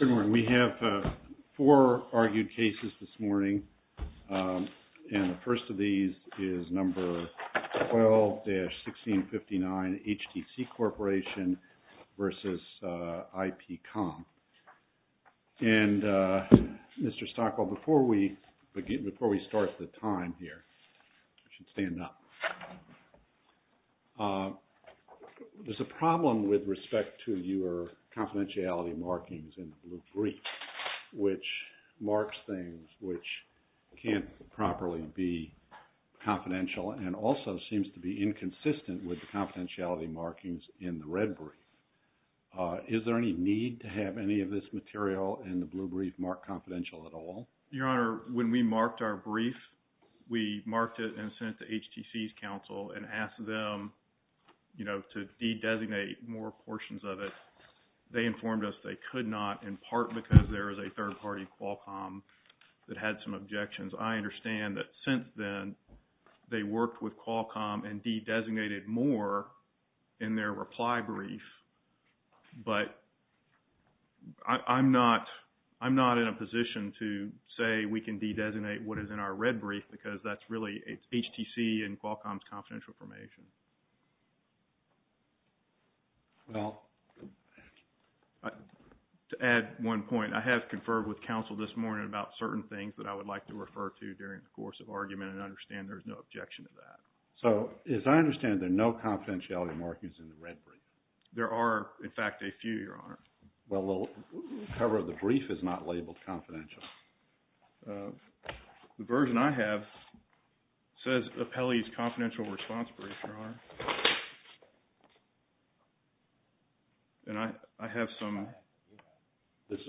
Good morning. We have four argued cases this morning and the first of these is number 12-1659 HTC CORPORATION v. IPCOM. And Mr. Stockwell, before we start the time here, you should stand up. There's a problem with respect to your confidentiality markings in the blue brief, which marks things which can't properly be confidential and also seems to be inconsistent with the confidentiality markings in the red brief. Is there any need to have any of this material in the blue brief marked confidential at all? Your Honor, when we marked our brief, we marked it and sent it to HTC's counsel and asked them, you know, to de-designate more portions of it. They informed us they could not in part because there is a third-party Qualcomm that had some objections. I understand that since then they worked with Qualcomm and de-designated more in their reply brief. But I'm not in a position to say we can de-designate what is in our red brief because that's really HTC and Qualcomm's confidential information. Well, to add one point, I have conferred with counsel this morning about certain things that I would like to refer to during the course of argument and understand there's no objection to that. So, as I understand, there are no confidentiality markings in the red brief. There are, in fact, a few, Your Honor. Well, the cover of the brief is not labeled confidential. The version I have says Apelli's confidential response brief, Your Honor, and I have some.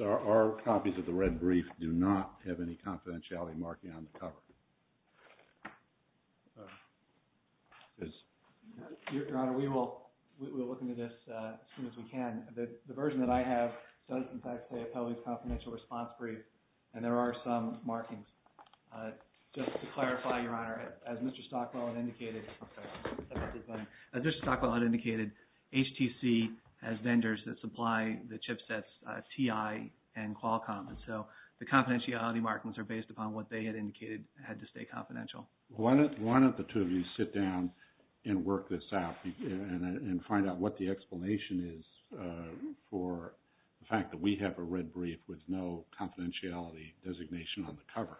Our copies of the red brief do not have any confidentiality marking on the cover. Your Honor, we will look into this as soon as we can. The version that I have does, in fact, say Apelli's confidential response brief, and there are some markings. Just to clarify, Your Honor, as Mr. Stockwell had indicated, HTC has vendors that supply the chipsets TI and Qualcomm, and so the confidentiality markings are based upon what they had indicated had to stay confidential. Why don't the two of you sit down and work this out and find out what the explanation is for the fact that we have a red brief with no confidentiality designation on the cover?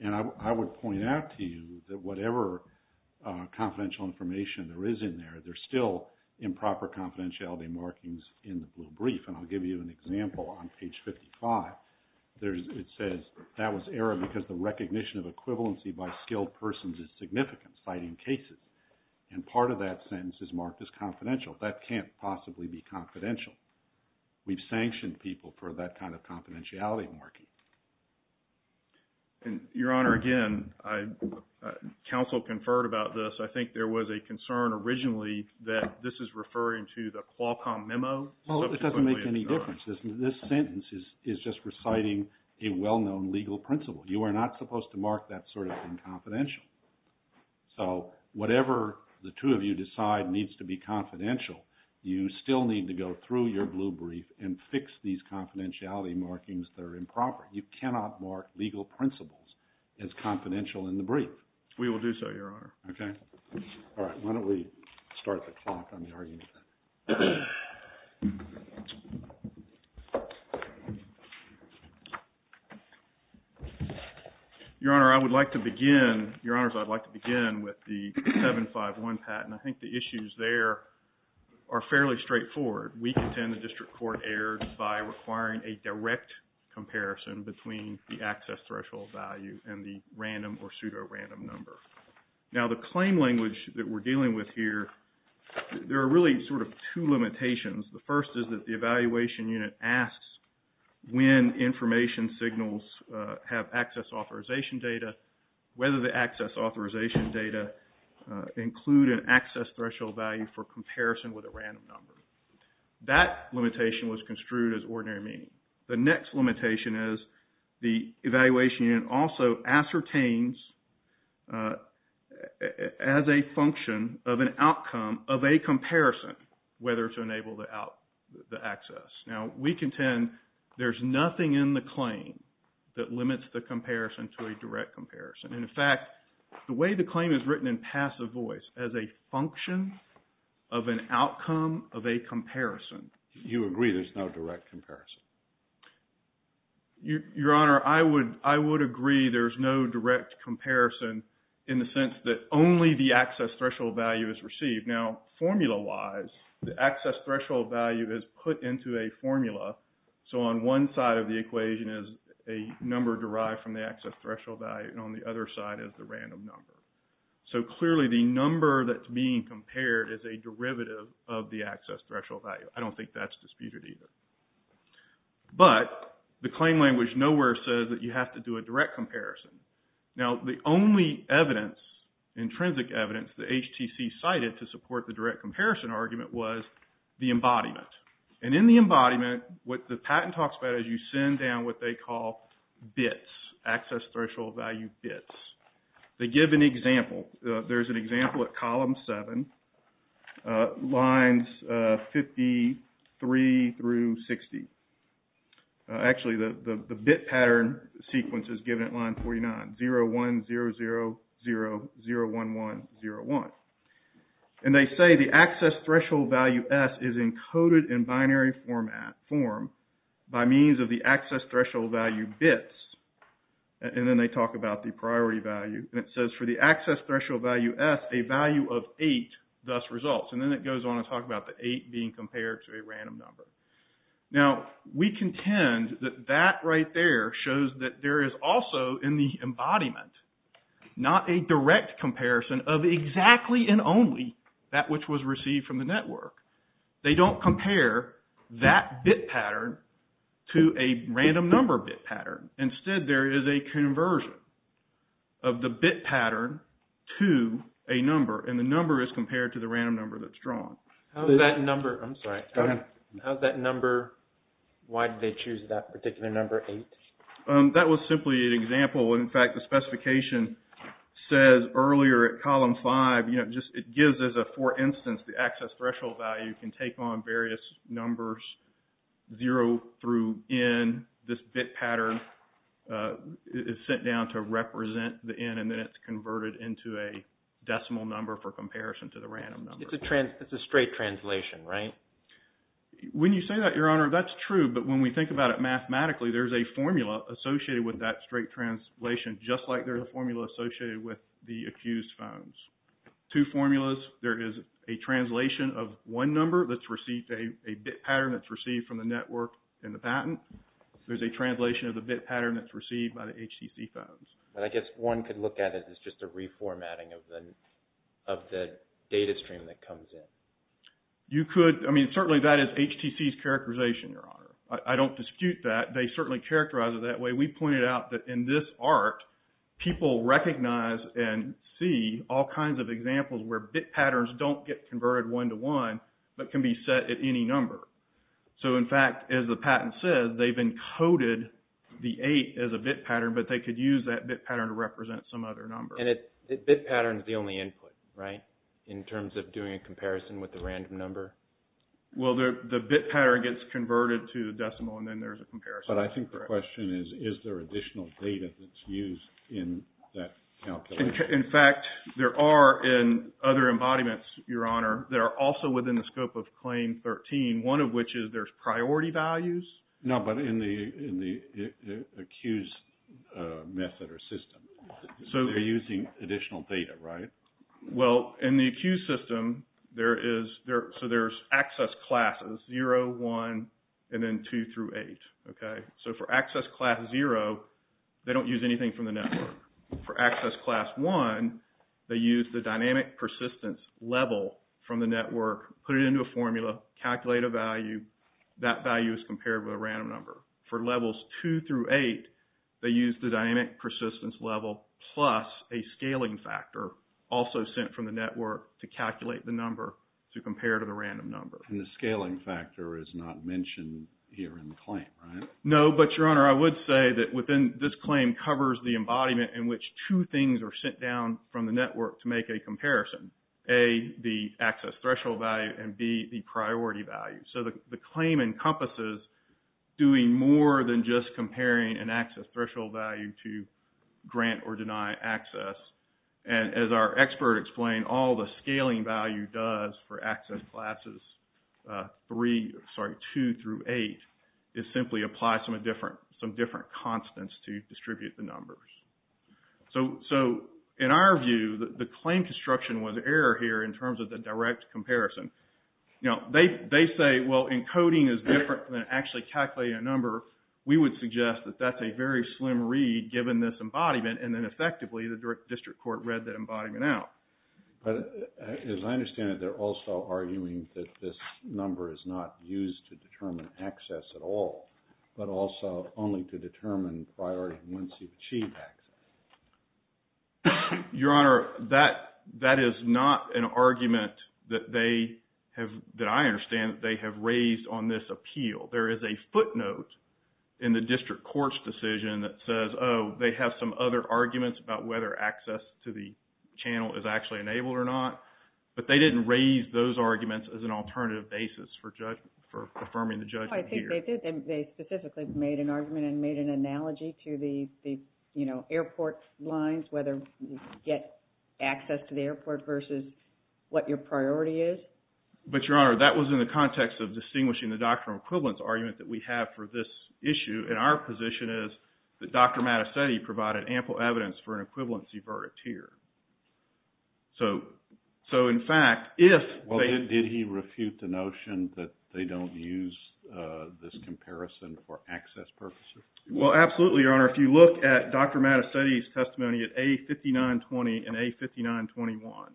And I would point out to you that whatever confidential information there is in there, there's still improper confidentiality markings in the blue brief, and I'll give you an example. On page 55, it says that was error because the recognition of equivalency by skilled persons is significant, citing cases. And part of that sentence is marked as confidential. That can't possibly be confidential. We've sanctioned people for that kind of confidentiality marking. And, Your Honor, again, counsel conferred about this. I think there was a concern originally that this is referring to the Qualcomm memo. Well, it doesn't make any difference. This sentence is just reciting a well-known legal principle. You are not supposed to mark that sort of thing confidential. So whatever the two of you decide needs to be confidential, you still need to go through your blue brief and fix these confidentiality markings that are improper. You cannot mark legal principles as confidential in the brief. We will do so, Your Honor. Okay. All right. Why don't we start the clock on the argument? Your Honor, I would like to begin, Your Honors, I'd like to begin with the 751 patent. I think the issues there are fairly straightforward. We contend the district court erred by requiring a direct comparison between the access threshold value and the random or pseudo-random number. Now, the claim language that we're dealing with here, there are really sort of two limitations. The first is that the evaluation unit asks when information signals have access authorization data, whether the access authorization data include an access threshold value for comparison with a random number. That limitation was construed as ordinary meaning. The next limitation is the evaluation unit also ascertains as a function of an outcome of a comparison whether to enable the access. Now, we contend there's nothing in the claim that limits the comparison to a direct comparison. And, in fact, the way the claim is written in passive voice, as a function of an outcome of a comparison. You agree there's no direct comparison? Your Honor, I would agree there's no direct comparison in the sense that only the access threshold value is received. Now, formula-wise, the access threshold value is put into a formula. So on one side of the equation is a number derived from the access threshold value, and on the other side is the random number. So, clearly, the number that's being compared is a derivative of the access threshold value. I don't think that's disputed either. But the claim language nowhere says that you have to do a direct comparison. Now, the only evidence, intrinsic evidence, the HTC cited to support the direct comparison argument was the embodiment. And in the embodiment, what the patent talks about is you send down what they call bits, access threshold value bits. They give an example. There's an example at column 7, lines 53 through 60. Actually, the bit pattern sequence is given at line 49, 0100001101. And they say the access threshold value S is encoded in binary format form by means of the access threshold value bits. And then they talk about the priority value. And it says for the access threshold value S, a value of 8 thus results. And then it goes on to talk about the 8 being compared to a random number. Now, we contend that that right there shows that there is also in the embodiment not a direct comparison of exactly and only that which was received from the network. They don't compare that bit pattern to a random number bit pattern. Instead, there is a conversion of the bit pattern to a number. And the number is compared to the random number that's drawn. How does that number – I'm sorry. Go ahead. How does that number – why did they choose that particular number 8? That was simply an example. In fact, the specification says earlier at column 5, you know, it gives as a for instance the access threshold value can take on various numbers, 0 through N. This bit pattern is sent down to represent the N. And then it's converted into a decimal number for comparison to the random number. It's a straight translation, right? When you say that, Your Honor, that's true. But when we think about it mathematically, there's a formula associated with that straight translation just like there's a formula associated with the accused phones. Two formulas. There is a translation of one number that's received – a bit pattern that's received from the network in the patent. There's a translation of the bit pattern that's received by the HTC phones. I guess one could look at it as just a reformatting of the data stream that comes in. You could – I mean, certainly that is HTC's characterization, Your Honor. I don't dispute that. They certainly characterize it that way. We pointed out that in this art, people recognize and see all kinds of examples where bit patterns don't get converted one-to-one but can be set at any number. So, in fact, as the patent says, they've encoded the 8 as a bit pattern, but they could use that bit pattern to represent some other number. And a bit pattern is the only input, right, in terms of doing a comparison with a random number? Well, the bit pattern gets converted to a decimal and then there's a comparison. But I think the question is, is there additional data that's used in that calculation? In fact, there are in other embodiments, Your Honor, that are also within the scope of Claim 13, one of which is there's priority values. No, but in the accused method or system. They're using additional data, right? Well, in the accused system, there is – so there's access classes, 0, 1, and then 2 through 8, okay? So, for access class 0, they don't use anything from the network. For access class 1, they use the dynamic persistence level from the network, put it into a formula, calculate a value. That value is compared with a random number. For levels 2 through 8, they use the dynamic persistence level plus a scaling factor also sent from the network to calculate the number to compare to the random number. And the scaling factor is not mentioned here in the claim, right? No, but, Your Honor, I would say that within this claim covers the embodiment in which two things are sent down from the network to make a comparison. A, the access threshold value, and B, the priority value. So, the claim encompasses doing more than just comparing an access threshold value to grant or deny access. And as our expert explained, all the scaling value does for access classes 2 through 8 is simply apply some different constants to distribute the numbers. So, in our view, the claim construction was error here in terms of the direct comparison. You know, they say, well, encoding is different than actually calculating a number. We would suggest that that's a very slim read given this embodiment, and then effectively the district court read that embodiment out. But as I understand it, they're also arguing that this number is not used to determine access at all, but also only to determine priority and once you achieve access. Your Honor, that is not an argument that I understand they have raised on this appeal. There is a footnote in the district court's decision that says, oh, they have some other arguments about whether access to the channel is actually enabled or not. But they didn't raise those arguments as an alternative basis for affirming the judgment here. They specifically made an argument and made an analogy to the airport lines, whether you get access to the airport versus what your priority is. But, Your Honor, that was in the context of distinguishing the doctrinal equivalence argument that we have for this issue. And our position is that Dr. Mattastetti provided ample evidence for an equivalency verdict here. So, in fact, if they... Well, did he refute the notion that they don't use this comparison for access purposes? Well, absolutely, Your Honor. If you look at Dr. Mattastetti's testimony at A5920 and A5921,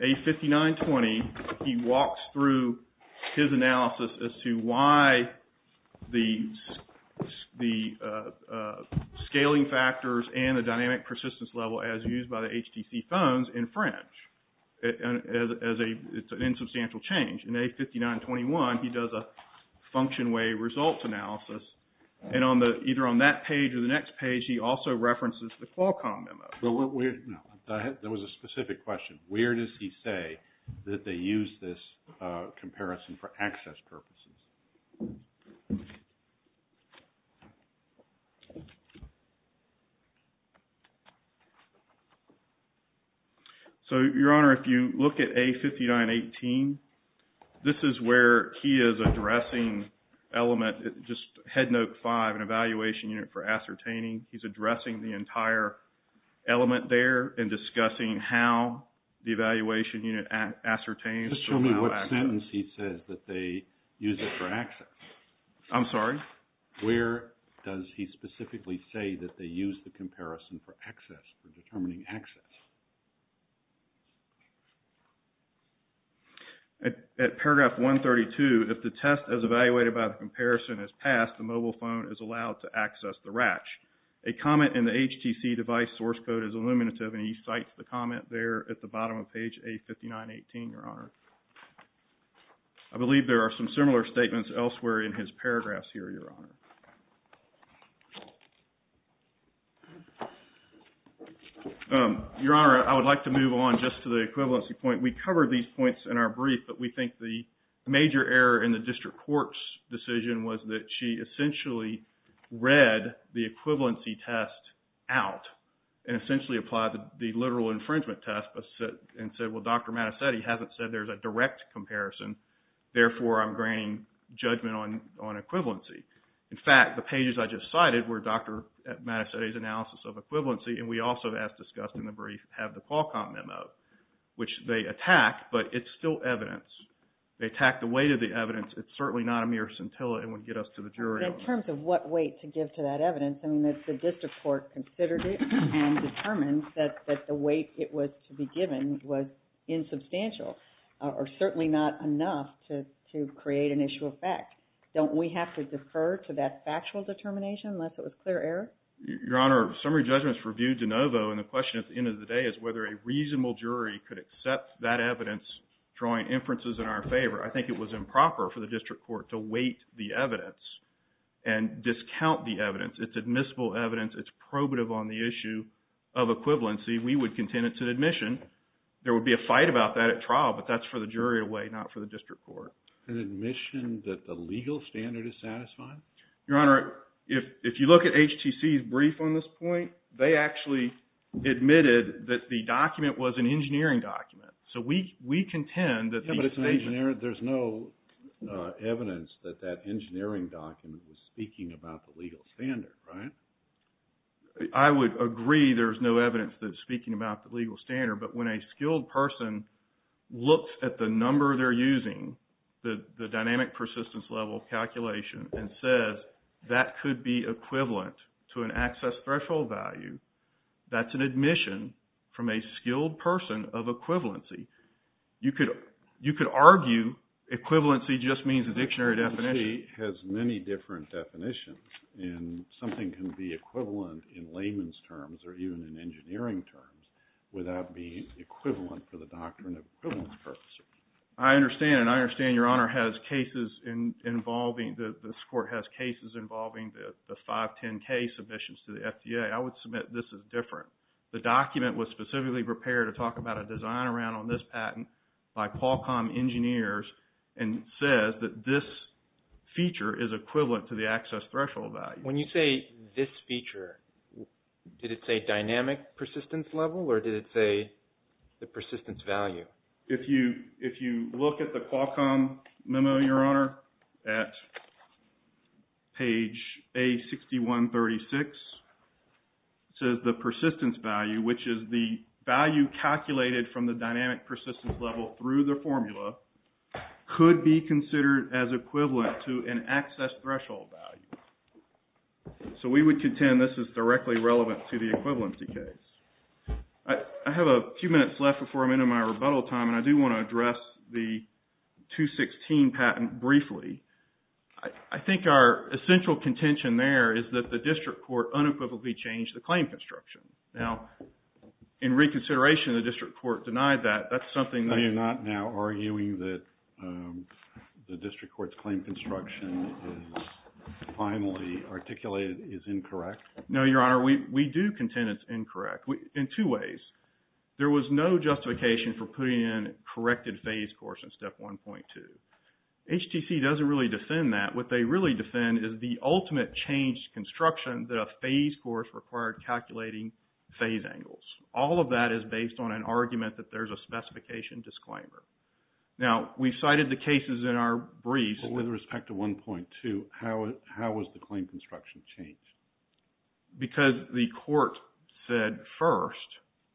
A5920, he walks through his analysis as to why the scaling factors and the dynamic persistence level as used by the HTC phones infringe. It's an insubstantial change. In A5921, he does a function way results analysis. And either on that page or the next page, he also references the Qualcomm memo. There was a specific question. Where does he say that they use this comparison for access purposes? So, Your Honor, if you look at A5918, this is where he is addressing element, just Head Note 5, an evaluation unit for ascertaining. He's addressing the entire element there and discussing how the evaluation unit ascertains... Just show me what sentence he says that they use it for access. I'm sorry? Where does he specifically say that they use the comparison for access, for determining access? At paragraph 132, if the test as evaluated by the comparison is passed, the mobile phone is allowed to access the RACH. A comment in the HTC device source code is illuminative, and he cites the comment there at the bottom of page A5918, Your Honor. I believe there are some similar statements elsewhere in his paragraphs here, Your Honor. Your Honor, I would like to move on just to the equivalency point. We covered these points in our brief, but we think the major error in the district court's decision was that she essentially read the equivalency test out and essentially applied the literal infringement test and said, well, Dr. Mattis said he hasn't said there's a direct comparison. Therefore, I'm granting judgment on equivalency. In fact, the pages I just cited were Dr. Mattis' analysis of equivalency, and we also, as discussed in the brief, have the Qualcomm memo, which they attack, but it's still evidence. They attack the weight of the evidence. It's certainly not a mere scintilla and would get us to the jury. In terms of what weight to give to that evidence, I mean, the district court considered it and determined that the weight it was to be given was insubstantial, or certainly not enough to create an issue of fact. Don't we have to defer to that factual determination unless it was clear error? Your Honor, summary judgment is reviewed de novo, and the question at the end of the day is whether a reasonable jury could accept that evidence drawing inferences in our favor. I think it was improper for the district court to weight the evidence and discount the evidence. It's admissible evidence. It's probative on the issue of equivalency. We would contend it's an admission. There would be a fight about that at trial, but that's for the jury to weigh, not for the district court. An admission that the legal standard is satisfying? Your Honor, if you look at HTC's brief on this point, they actually admitted that the document was an engineering document. So we contend that the statement... Yeah, but it's an engineering... There's no evidence that that engineering document was speaking about the legal standard, right? I would agree there's no evidence that it's speaking about the legal standard, but when a skilled person looks at the number they're using, the dynamic persistence level calculation, and says that could be equivalent to an access threshold value, that's an admission from a skilled person of equivalency. You could argue equivalency just means a dictionary definition. HTC has many different definitions, and something can be equivalent in layman's terms or even in engineering terms without being equivalent for the doctrine of equivalence purposes. I understand, and I understand Your Honor has cases involving, this court has cases involving the 510K submissions to the FDA. I would submit this is different. The document was specifically prepared to talk about a design around on this patent by Qualcomm engineers, and says that this feature is equivalent to the access threshold value. When you say this feature, did it say dynamic persistence level, or did it say the persistence value? If you look at the Qualcomm memo, Your Honor, at page A6136, it says the persistence value, which is the value calculated from the dynamic persistence level through the formula, could be considered as equivalent to an access threshold value. So we would contend this is directly relevant to the equivalency case. I have a few minutes left before I'm into my rebuttal time, and I do want to address the 216 patent briefly. I think our essential contention there is that the district court unequivocally changed the claim construction. Now, in reconsideration, the district court denied that. That's something that... Are you not now arguing that the district court's claim construction is finally articulated as incorrect? No, Your Honor. We do contend it's incorrect in two ways. There was no justification for putting in corrected phase course in step 1.2. HTC doesn't really defend that. What they really defend is the ultimate changed construction that a phase course required calculating phase angles. All of that is based on an argument that there's a specification disclaimer. Now, we cited the cases in our briefs... But with respect to 1.2, how was the claim construction changed? Because the court said first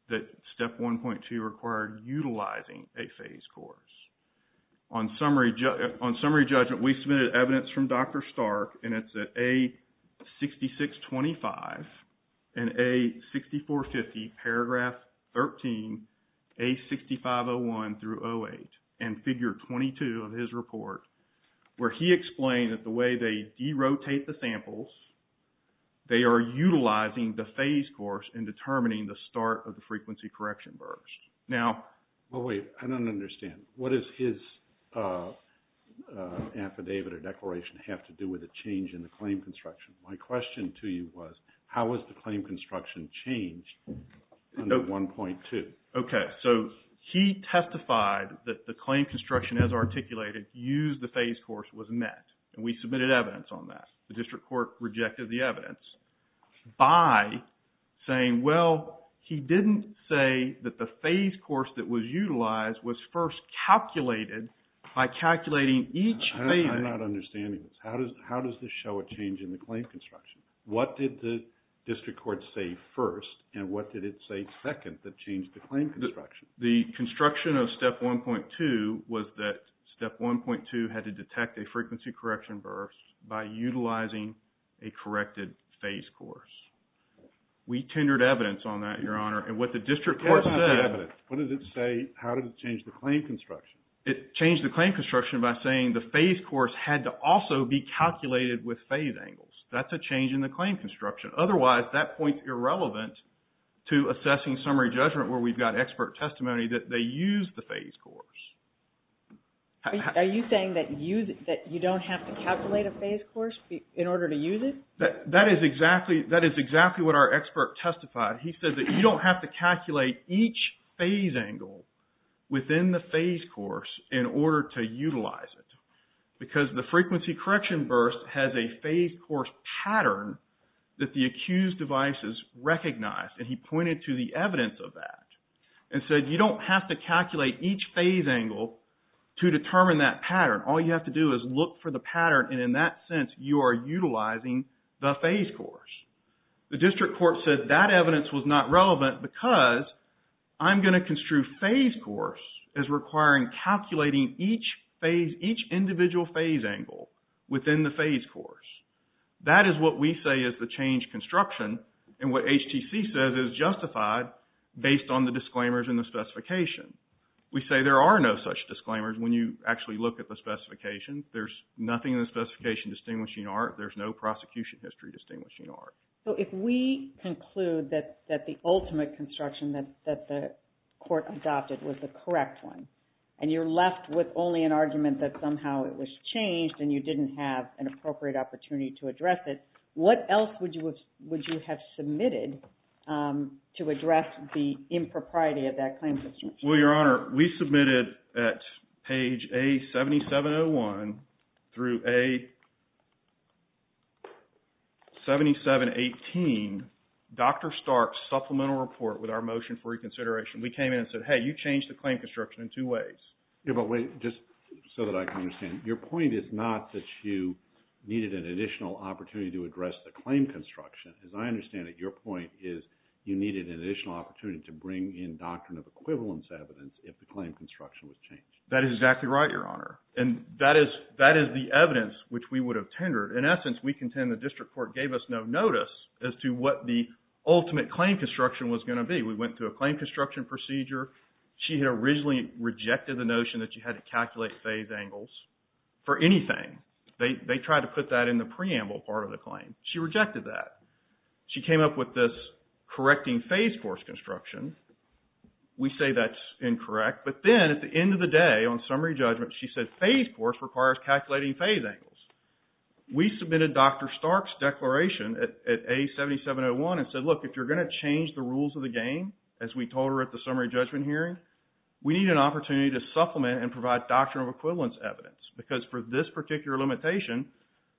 that step 1.2 required utilizing a phase course. On summary judgment, we submitted evidence from Dr. Stark, and it's at A6625 and A6450, paragraph 13, A6501 through 08, and figure 22 of his report, where he explained that the way they derotate the samples, they are utilizing the phase course in determining the start of the frequency correction burst. Now... Wait, I don't understand. What does his affidavit or declaration have to do with a change in the claim construction? My question to you was, how was the claim construction changed under 1.2? Okay, so he testified that the claim construction as articulated used the phase course was met, and we submitted evidence on that. The district court rejected the evidence by saying, well, he didn't say that the phase course that was utilized was first calculated by calculating each phase... I'm not understanding this. How does this show a change in the claim construction? What did the district court say first, and what did it say second that changed the claim construction? The construction of step 1.2 was that step 1.2 had to detect a frequency correction burst by utilizing a corrected phase course. We tendered evidence on that, Your Honor, and what the district court said... What does it say, how did it change the claim construction? It changed the claim construction by saying the phase course had to also be calculated with phase angles. That's a change in the claim construction. Otherwise, that point's irrelevant to assessing summary judgment where we've got expert testimony that they used the phase course. Are you saying that you don't have to calculate a phase course in order to use it? That is exactly what our expert testified. He said that you don't have to calculate each phase angle within the phase course in order to utilize it. Because the frequency correction burst has a phase course pattern that the accused device has recognized, and he pointed to the evidence of that and said you don't have to calculate each phase angle to determine that pattern. All you have to do is look for the pattern, and in that sense, you are utilizing the phase course. The district court said that evidence was not relevant because I'm going to construe phase course as requiring calculating each individual phase angle within the phase course. That is what we say is the change construction, and what HTC says is justified based on the disclaimers in the specification. We say there are no such disclaimers when you actually look at the specifications. There's nothing in the specification distinguishing art. There's no prosecution history distinguishing art. If we conclude that the ultimate construction that the court adopted was the correct one, and you're left with only an argument that somehow it was changed, and you didn't have an appropriate opportunity to address it, what else would you have submitted to address the impropriety of that claim? Well, Your Honor, we submitted at page A7701 through A7718, Dr. Stark's supplemental report with our motion for reconsideration. We came in and said, hey, you changed the claim construction in two ways. Yeah, but wait, just so that I can understand. Your point is not that you needed an additional opportunity to address the claim construction. As I understand it, your point is you needed an additional opportunity to bring in doctrine of equivalence evidence if the claim construction was changed. That is exactly right, Your Honor, and that is the evidence which we would have tendered. In essence, we contend the district court gave us no notice as to what the ultimate claim construction was going to be. We went through a claim construction procedure. She had originally rejected the notion that you had to calculate phase angles for anything. They tried to put that in the preamble part of the claim. She rejected that. She came up with this correcting phase force construction. We say that is incorrect, but then at the end of the day on summary judgment, she said phase force requires calculating phase angles. We submitted Dr. Stark's declaration at A7701 and said, look, if you are going to change the rules of the game, as we told her at the summary judgment hearing, we need an opportunity to supplement and provide doctrine of equivalence evidence because for this particular limitation,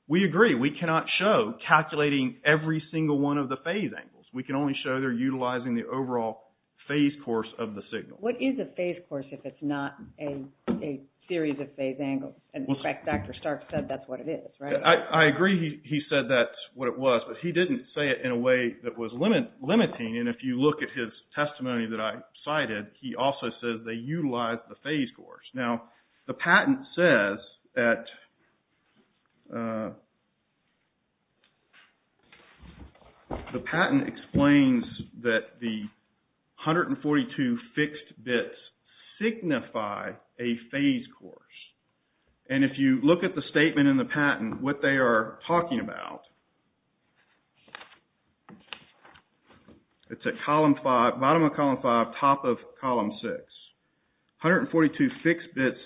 we agree. We cannot show calculating every single one of the phase angles. We can only show they're utilizing the overall phase course of the signal. What is a phase course if it's not a series of phase angles? In fact, Dr. Stark said that's what it is, right? I agree he said that's what it was, but he didn't say it in a way that was limiting, and if you look at his testimony that I cited, he also says they utilize the phase course. Now, the patent explains that the 142 fixed bits signify a phase course, and if you look at the statement in the patent, what they are talking about, it's at bottom of column 5, top of column 6. 142 fixed bits,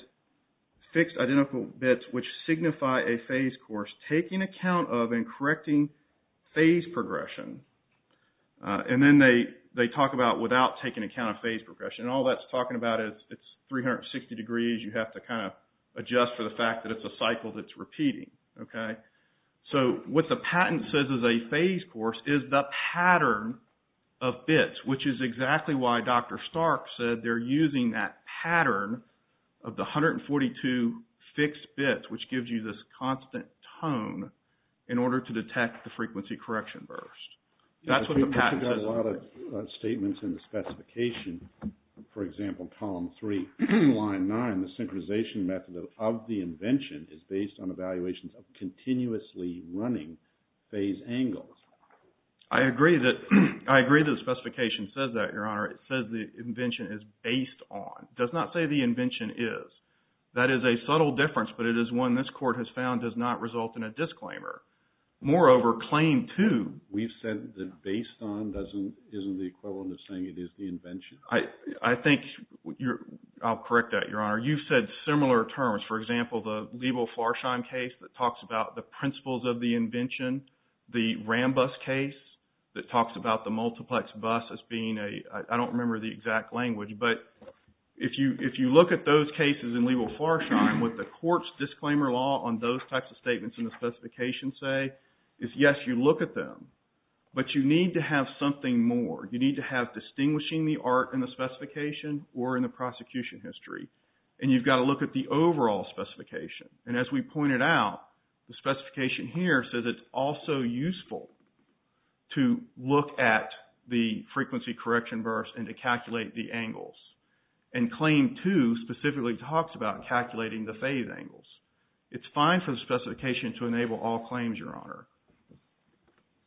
fixed identical bits, which signify a phase course, taking account of and correcting phase progression. And then they talk about without taking account of phase progression. All that's talking about is it's 360 degrees. You have to kind of adjust for the fact that it's a cycle that's repeating, okay? So, what the patent says is a phase course is the pattern of bits, which is exactly why Dr. Stark said they're using that pattern of the 142 fixed bits, which gives you this constant tone in order to detect the frequency correction burst. That's what the patent says. We've got a lot of statements in the specification, for example, column 3, line 9, the synchronization method of the invention is based on evaluations of continuously running phase angles. I agree that the specification says that, Your Honor. It says the invention is based on. It does not say the invention is. That is a subtle difference, but it is one this Court has found does not result in a disclaimer. Moreover, claim 2. We've said that based on isn't the equivalent of saying it is the invention. I think you're – I'll correct that, Your Honor. You've said similar terms. For example, the Liebel-Flarscheim case that talks about the principles of the invention, the Rambus case that talks about the multiplex bus as being a – I don't remember the exact language. But if you look at those cases in Liebel-Flarscheim, what the Court's disclaimer law on those types of statements in the specification say is, yes, you look at them, but you need to have something more. You need to have distinguishing the art in the specification or in the prosecution history. And you've got to look at the overall specification. And as we pointed out, the specification here says it's also useful to look at the frequency correction verse and to calculate the angles. And claim 2 specifically talks about calculating the phase angles. It's fine for the specification to enable all claims, Your Honor.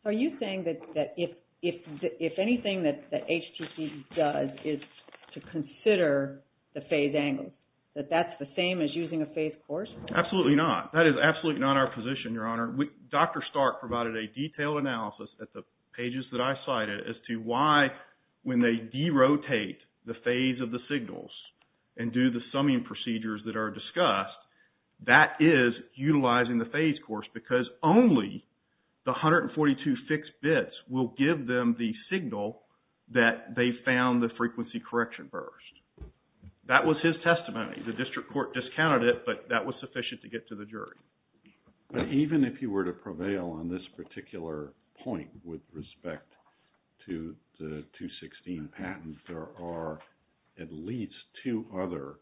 Are you saying that if anything that HTC does is to consider the phase angles, that that's the same as using a phase course? Absolutely not. That is absolutely not our position, Your Honor. Dr. Stark provided a detailed analysis at the pages that I cited as to why, when they derotate the phase of the signals and do the summing procedures that are discussed, that is utilizing the phase course because only the 142 fixed bits will give them the signal that they found the frequency correction verse. That was his testimony. The district court discounted it, but that was sufficient to get to the jury. But even if you were to prevail on this particular point with respect to the 216 patent, there are at least two other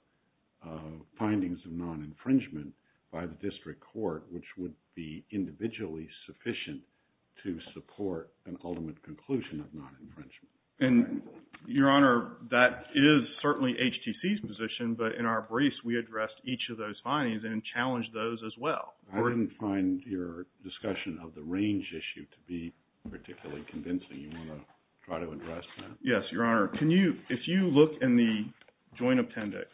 findings of non-infringement by the district court which would be individually sufficient to support an ultimate conclusion of non-infringement. And, Your Honor, that is certainly HTC's position, but in our briefs, we addressed each of those findings and challenged those as well. I didn't find your discussion of the range issue to be particularly convincing. You want to try to address that? Yes, Your Honor. If you look in the joint appendix,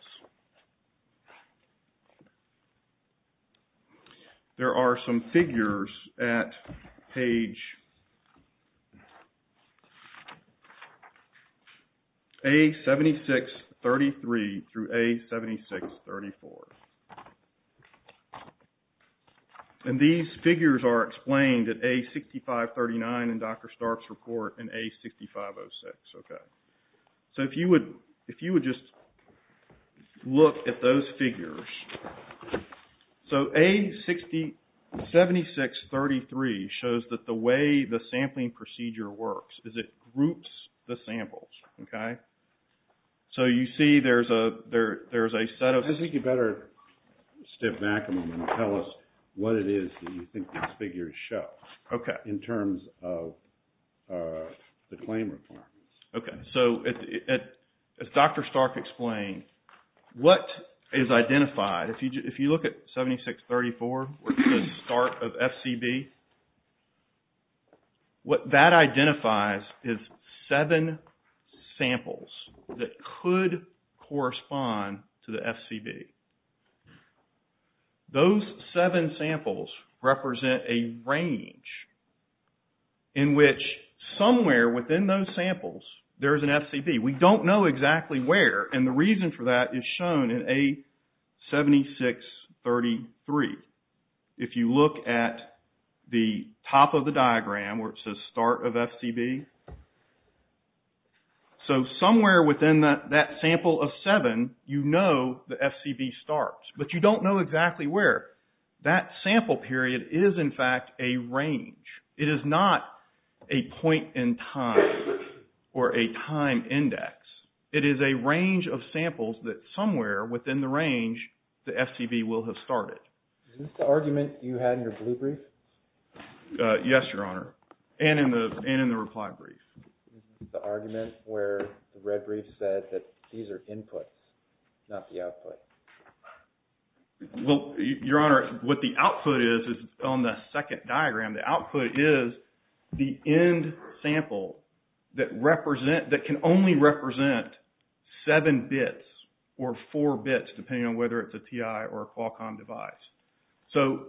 there are some figures at page A7633 through A7634. And these figures are explained at A6539 in Dr. Stark's report and A6506. So, if you would just look at those figures. So, A7633 shows that the way the sampling procedure works is it groups the samples. Okay? So, you see there's a set of... I think you better step back a moment and tell us what it is that you think these figures show. Okay. In terms of the claim requirements. Okay. So, as Dr. Stark explained, what is identified... If you look at 7634, the start of FCB, what that identifies is seven samples that could correspond to the FCB. Those seven samples represent a range in which somewhere within those samples, there's an FCB. We don't know exactly where. And the reason for that is shown in A7633. If you look at the top of the diagram where it says start of FCB. So, somewhere within that sample of seven, you know the FCB starts. But you don't know exactly where. That sample period is, in fact, a range. It is not a point in time or a time index. It is a range of samples that somewhere within the range, the FCB will have started. Is this the argument you had in your blue brief? Yes, Your Honor. And in the reply brief. The argument where the red brief said that these are inputs, not the output. Well, Your Honor, what the output is, is on the second diagram. The output is the end sample that can only represent seven bits or four bits, depending on whether it's a TI or a Qualcomm device. So,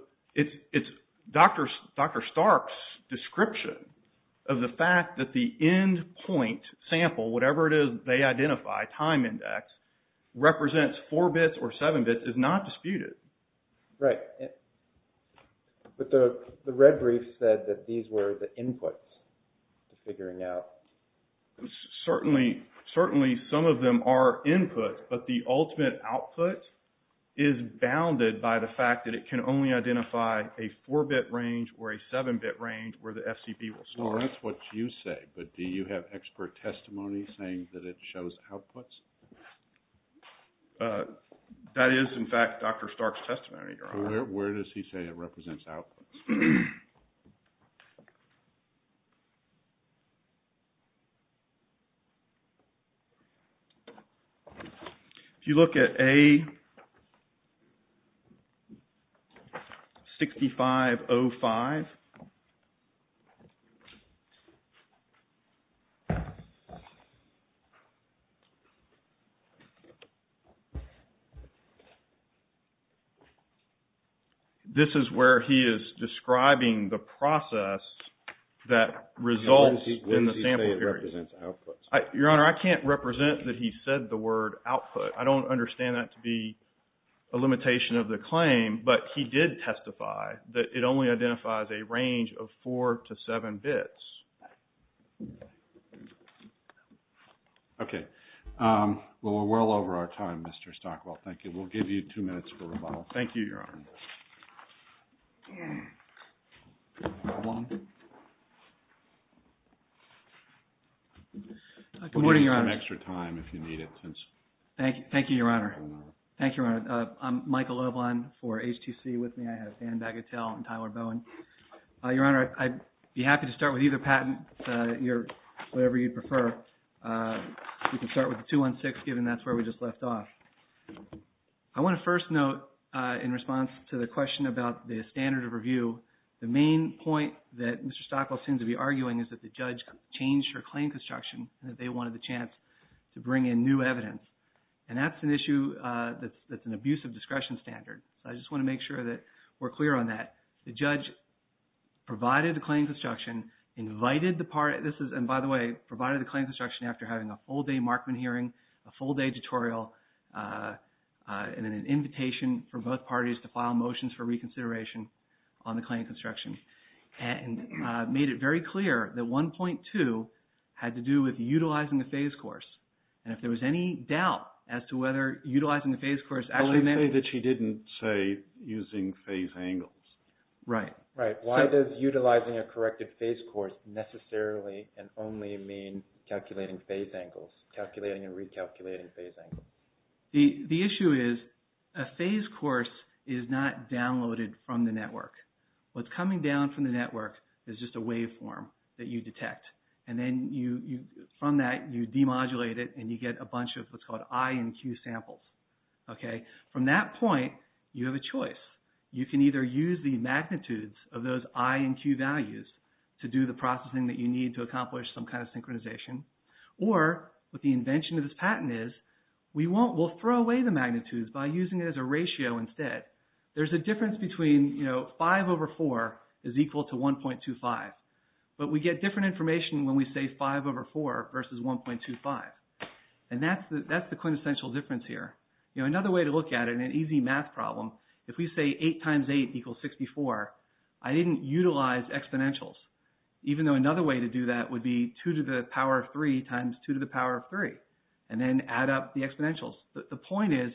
Dr. Stark's description of the fact that the end point sample, whatever it is they identify, time index, represents four bits or seven bits, is not disputed. Right. But the red brief said that these were the inputs to figuring out. Certainly, some of them are inputs. But the ultimate output is bounded by the fact that it can only identify a four-bit range or a seven-bit range where the FCB will start. Well, that's what you say. But do you have expert testimony saying that it shows outputs? That is, in fact, Dr. Stark's testimony, Your Honor. Where does he say it represents outputs? If you look at A6505, this is where he is describing the process that results in the sample. Your Honor, I can't represent that he said the word output. I don't understand that to be a limitation of the claim. But he did testify that it only identifies a range of four to seven bits. Okay. Well, we're well over our time, Mr. Stockwell. Thank you. We'll give you two minutes for rebuttal. Thank you, Your Honor. Good morning, Your Honor. We'll give you some extra time if you need it. Thank you, Your Honor. Thank you, Your Honor. I'm Michael Loveline for HTC. With me, I have Dan Bagatelle and Tyler Bowen. Your Honor, I'd be happy to start with either patent, whatever you prefer. We can start with the 216, given that's where we just left off. I want to first note, in response to the question about the standard of review, the main point that Mr. Stockwell seems to be arguing is that the judge changed her claim construction and that they wanted the chance to bring in new evidence. And that's an issue that's an abuse of discretion standard. So I just want to make sure that we're clear on that. The judge provided the claim construction, invited the party. This is, and by the way, provided the claim construction after having a full-day Markman hearing, a full-day tutorial, and then an invitation for both parties to file motions for reconsideration on the claim construction. And made it very clear that 1.2 had to do with utilizing the phase course. And if there was any doubt as to whether utilizing the phase course actually meant… Right. Why does utilizing a corrected phase course necessarily and only mean calculating phase angles, calculating and recalculating phase angles? The issue is a phase course is not downloaded from the network. What's coming down from the network is just a waveform that you detect. And then from that, you demodulate it and you get a bunch of what's called I and Q samples. From that point, you have a choice. You can either use the magnitudes of those I and Q values to do the processing that you need to accomplish some kind of synchronization, or what the invention of this patent is, we'll throw away the magnitudes by using it as a ratio instead. There's a difference between 5 over 4 is equal to 1.25. But we get different information when we say 5 over 4 versus 1.25. And that's the quintessential difference here. Another way to look at it in an easy math problem, if we say 8 times 8 equals 64, I didn't utilize exponentials, even though another way to do that would be 2 to the power of 3 times 2 to the power of 3, and then add up the exponentials. The point is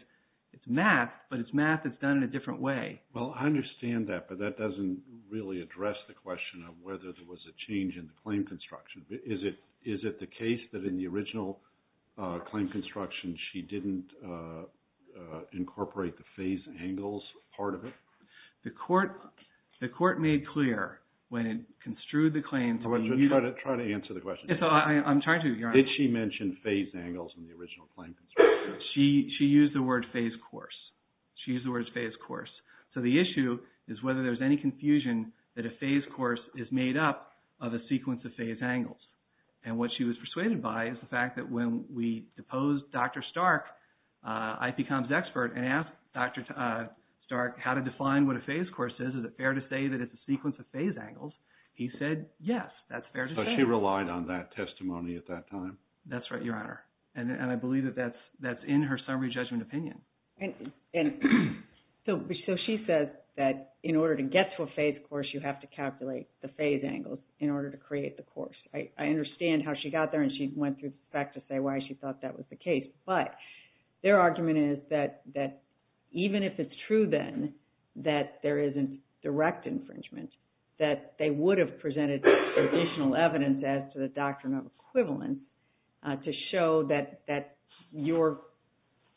it's math, but it's math that's done in a different way. Well, I understand that, but that doesn't really address the question of whether there was a change in the claim construction. Is it the case that in the original claim construction, she didn't incorporate the phase angles part of it? The court made clear when it construed the claim. Try to answer the question. I'm trying to, Your Honor. Did she mention phase angles in the original claim construction? She used the word phase course. She used the word phase course. So the issue is whether there's any confusion that a phase course is made up of a sequence of phase angles. And what she was persuaded by is the fact that when we deposed Dr. Stark, IPCOM's expert, and asked Dr. Stark how to define what a phase course is, is it fair to say that it's a sequence of phase angles? He said yes, that's fair to say. So she relied on that testimony at that time? That's right, Your Honor. And I believe that that's in her summary judgment opinion. So she says that in order to get to a phase course, you have to calculate the phase angles in order to create the course. I understand how she got there, and she went through the fact to say why she thought that was the case. But their argument is that even if it's true, then, that there isn't direct infringement, that they would have presented additional evidence as to the doctrinal equivalence to show that your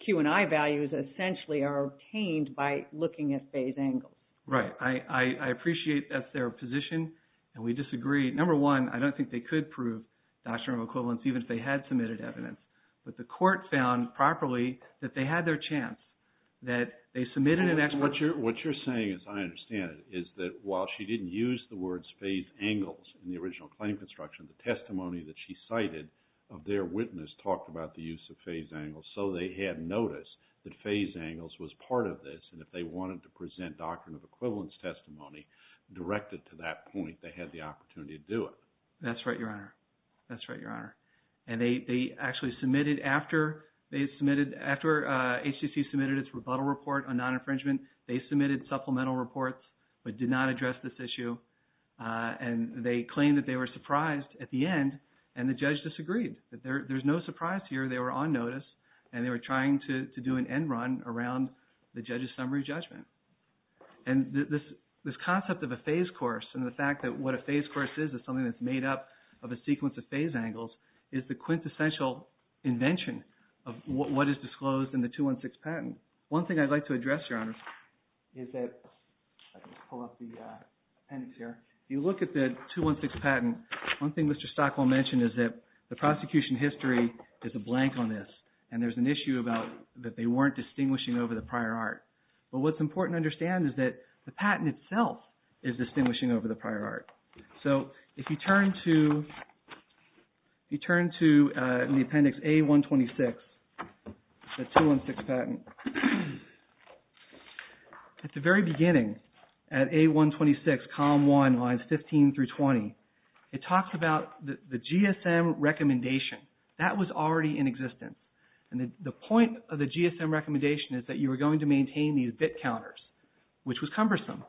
Q&I values, essentially, are obtained by looking at phase angles. Right. I appreciate that's their position, and we disagree. Number one, I don't think they could prove doctrinal equivalence, even if they had submitted evidence. But the court found properly that they had their chance, that they submitted an expert. What you're saying, as I understand it, is that while she didn't use the words phase angles in the original claim construction, the testimony that she cited of their witness, talked about the use of phase angles. So they had noticed that phase angles was part of this, and if they wanted to present doctrinal equivalence testimony directed to that point, they had the opportunity to do it. That's right, Your Honor. That's right, Your Honor. And they actually submitted after HCC submitted its rebuttal report on non-infringement, they submitted supplemental reports, but did not address this issue. And they claimed that they were surprised at the end, and the judge disagreed. There's no surprise here. They were on notice, and they were trying to do an end run around the judge's summary judgment. And this concept of a phase course and the fact that what a phase course is is something that's made up of a sequence of phase angles is the quintessential invention of what is disclosed in the 216 patent. One thing I'd like to address, Your Honor, is that, let me pull up the appendix here. If you look at the 216 patent, one thing Mr. Stockwell mentioned is that the prosecution history is a blank on this, and there's an issue about that they weren't distinguishing over the prior art. But what's important to understand is that the patent itself is distinguishing over the prior art. So if you turn to the appendix A-126, the 216 patent, at the very beginning, at A-126, column 1, lines 15 through 20, it talks about the GSM recommendation. That was already in existence. And the point of the GSM recommendation is that you were going to maintain these bit counters, which was cumbersome.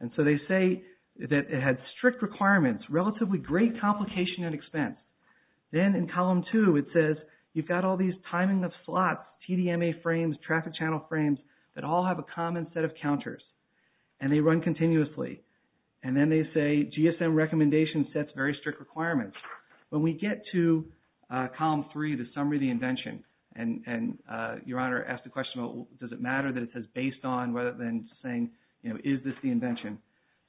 And so they say that it had strict requirements, relatively great complication and expense. Then in column 2, it says you've got all these timing of slots, TDMA frames, traffic channel frames, that all have a common set of counters. And they run continuously. And then they say GSM recommendation sets very strict requirements. When we get to column 3, the summary of the invention, and Your Honor asked the question, does it matter that it says based on, rather than saying, you know, is this the invention?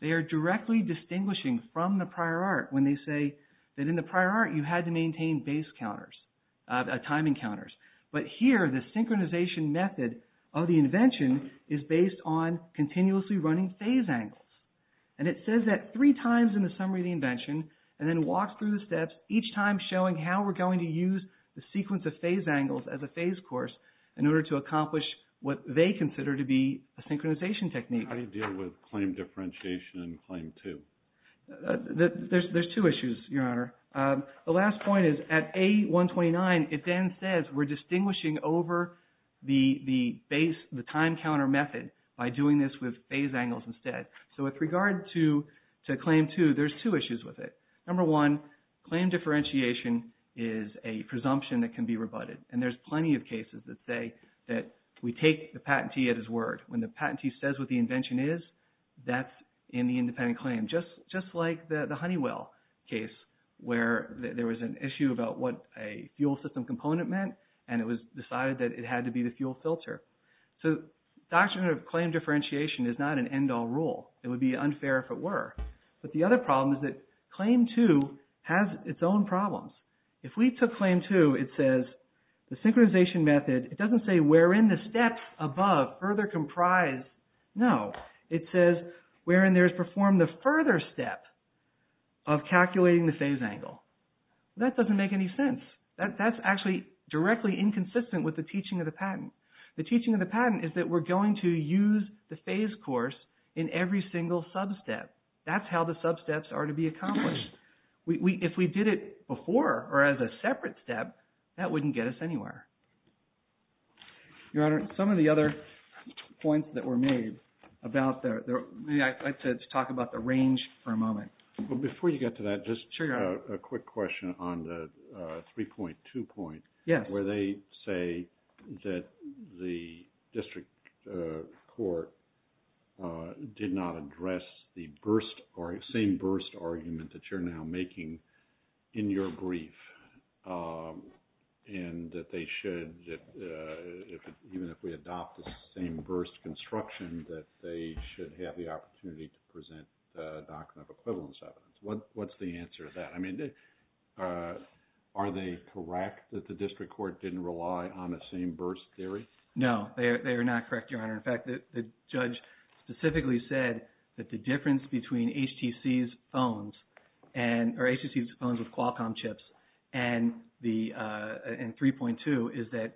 They are directly distinguishing from the prior art when they say that in the prior art, you had to maintain base counters, timing counters. But here, the synchronization method of the invention is based on continuously running phase angles. And it says that three times in the summary of the invention, and then walks through the steps, each time showing how we're going to use the sequence of phase angles as a phase course in order to accomplish what they consider to be a synchronization technique. How do you deal with claim differentiation and claim 2? There's two issues, Your Honor. The last point is at A129, it then says we're distinguishing over the base, the time counter method by doing this with phase angles instead. So with regard to claim 2, there's two issues with it. Number one, claim differentiation is a presumption that can be rebutted. And there's plenty of cases that say that we take the patentee at his word. When the patentee says what the invention is, that's in the independent claim. Just like the Honeywell case where there was an issue about what a fuel system component meant, and it was decided that it had to be the fuel filter. So doctrine of claim differentiation is not an end-all rule. It would be unfair if it were. But the other problem is that claim 2 has its own problems. If we took claim 2, it says the synchronization method, it doesn't say wherein the steps above further comprise. No. It says wherein there is performed the further step of calculating the phase angle. That doesn't make any sense. That's actually directly inconsistent with the teaching of the patent. The teaching of the patent is that we're going to use the phase course in every single sub-step. That's how the sub-steps are to be accomplished. If we did it before or as a separate step, that wouldn't get us anywhere. Your Honor, some of the other points that were made about the – I'd like to talk about the range for a moment. But before you get to that, just a quick question on the 3.2 point. Yes. Where they say that the district court did not address the burst or the same burst argument that you're now making in your brief and that they should – even if we adopt the same burst construction, that they should have the opportunity to present documents of equivalence evidence. What's the answer to that? I mean, are they correct that the district court didn't rely on the same burst theory? No, they are not correct, Your Honor. In fact, the judge specifically said that the difference between HTC's phones or HTC's phones with Qualcomm chips and 3.2 is that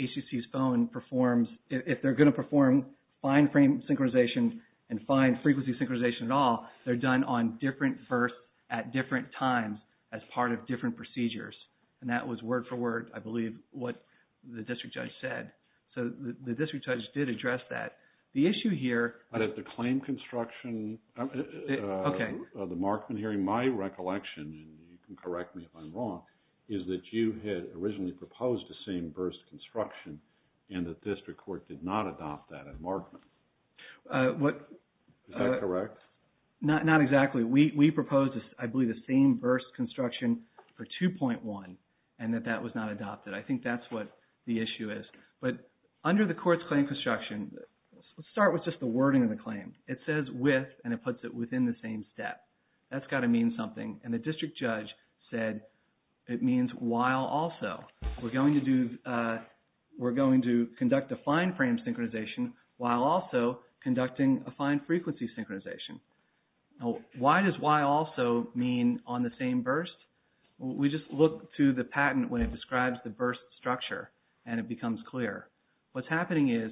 HTC's phone performs – if they're going to perform fine frame synchronization and fine frequency synchronization at all, they're done on different bursts at different times as part of different procedures. And that was word for word, I believe, what the district judge said. So the district judge did address that. The issue here – But if the claim construction – Okay. The Markman hearing, my recollection, and you can correct me if I'm wrong, is that you had originally proposed the same burst construction and the district court did not adopt that at Markman. What – Is that correct? Not exactly. We proposed, I believe, the same burst construction for 2.1 and that that was not adopted. I think that's what the issue is. But under the court's claim construction, let's start with just the wording of the claim. It says with and it puts it within the same step. That's got to mean something. And the district judge said it means while also. We're going to conduct a fine frame synchronization while also conducting a fine frequency synchronization. Why does why also mean on the same burst? We just look to the patent when it describes the burst structure and it becomes clear. What's happening is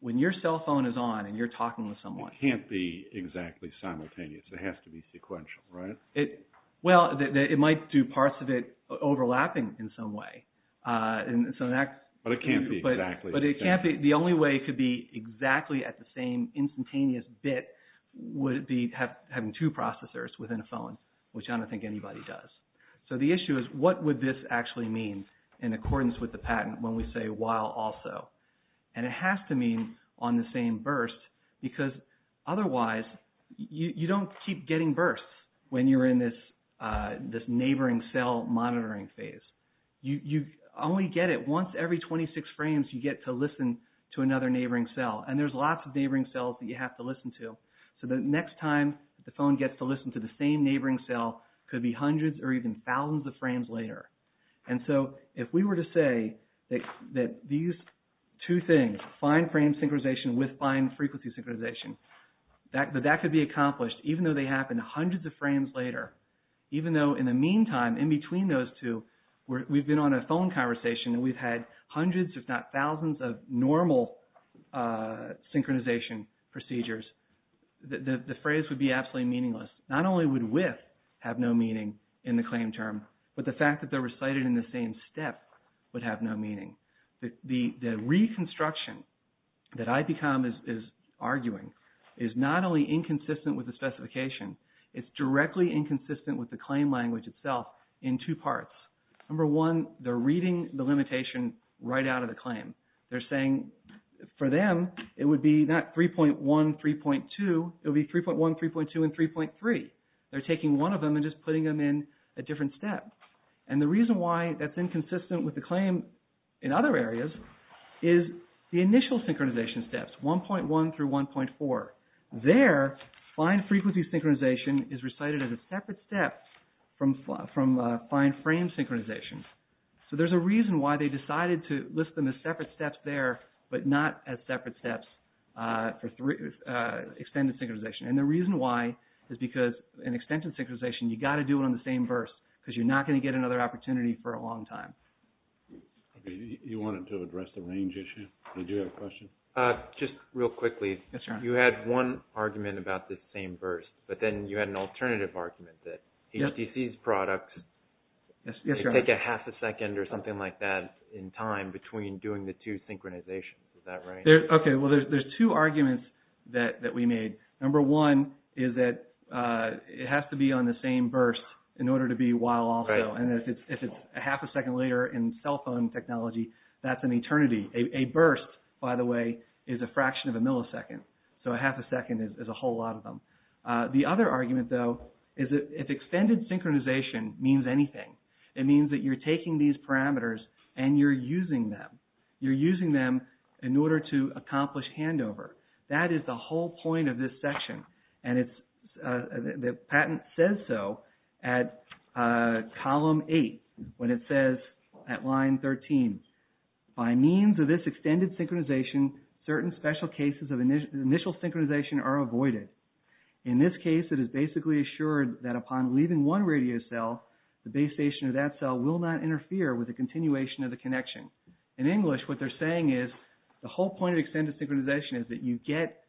when your cell phone is on and you're talking with someone – It can't be exactly simultaneous. It has to be sequential, right? Well, it might do parts of it overlapping in some way. But it can't be exactly simultaneous. But the only way it could be exactly at the same instantaneous bit would be having two processors within a phone, which I don't think anybody does. So the issue is what would this actually mean in accordance with the patent when we say while also? And it has to mean on the same burst because otherwise you don't keep getting bursts when you're in this neighboring cell monitoring phase. You only get it once every 26 frames you get to listen to another neighboring cell. And there's lots of neighboring cells that you have to listen to. So the next time the phone gets to listen to the same neighboring cell could be hundreds or even thousands of frames later. And so if we were to say that these two things, fine frame synchronization with fine frequency synchronization, that could be accomplished even though they happen hundreds of frames later, even though in the meantime in between those two we've been on a phone conversation and we've had hundreds if not thousands of normal synchronization procedures, the phrase would be absolutely meaningless. Not only would with have no meaning in the claim term, but the fact that they're recited in the same step would have no meaning. The reconstruction that IPCOM is arguing is not only inconsistent with the specification, it's directly inconsistent with the claim language itself in two parts. Number one, they're reading the limitation right out of the claim. They're saying for them it would be not 3.1, 3.2, it would be 3.1, 3.2, and 3.3. They're taking one of them and just putting them in a different step. And the reason why that's inconsistent with the claim in other areas is the initial synchronization steps, 1.1 through 1.4. There, fine frequency synchronization is recited as a separate step from fine frame synchronization. So there's a reason why they decided to list them as separate steps there, but not as separate steps for extended synchronization. And the reason why is because in extended synchronization you've got to do it on the same verse because you're not going to get another opportunity for a long time. You wanted to address the range issue? Did you have a question? Just real quickly. You had one argument about the same verse, but then you had an alternative argument that HTC's products take a half a second or something like that in time between doing the two synchronizations. Is that right? Okay. Well, there's two arguments that we made. Number one is that it has to be on the same verse in order to be while also. And if it's a half a second later in cell phone technology, that's an eternity. A burst, by the way, is a fraction of a millisecond. So a half a second is a whole lot of them. The other argument, though, is that if extended synchronization means anything, it means that you're taking these parameters and you're using them. You're using them in order to accomplish handover. That is the whole point of this section, and the patent says so at column eight when it says at line 13, by means of this extended synchronization, certain special cases of initial synchronization are avoided. In this case, it is basically assured that upon leaving one radio cell, the base station of that cell will not interfere with the continuation of the connection. In English, what they're saying is the whole point of extended synchronization is that you get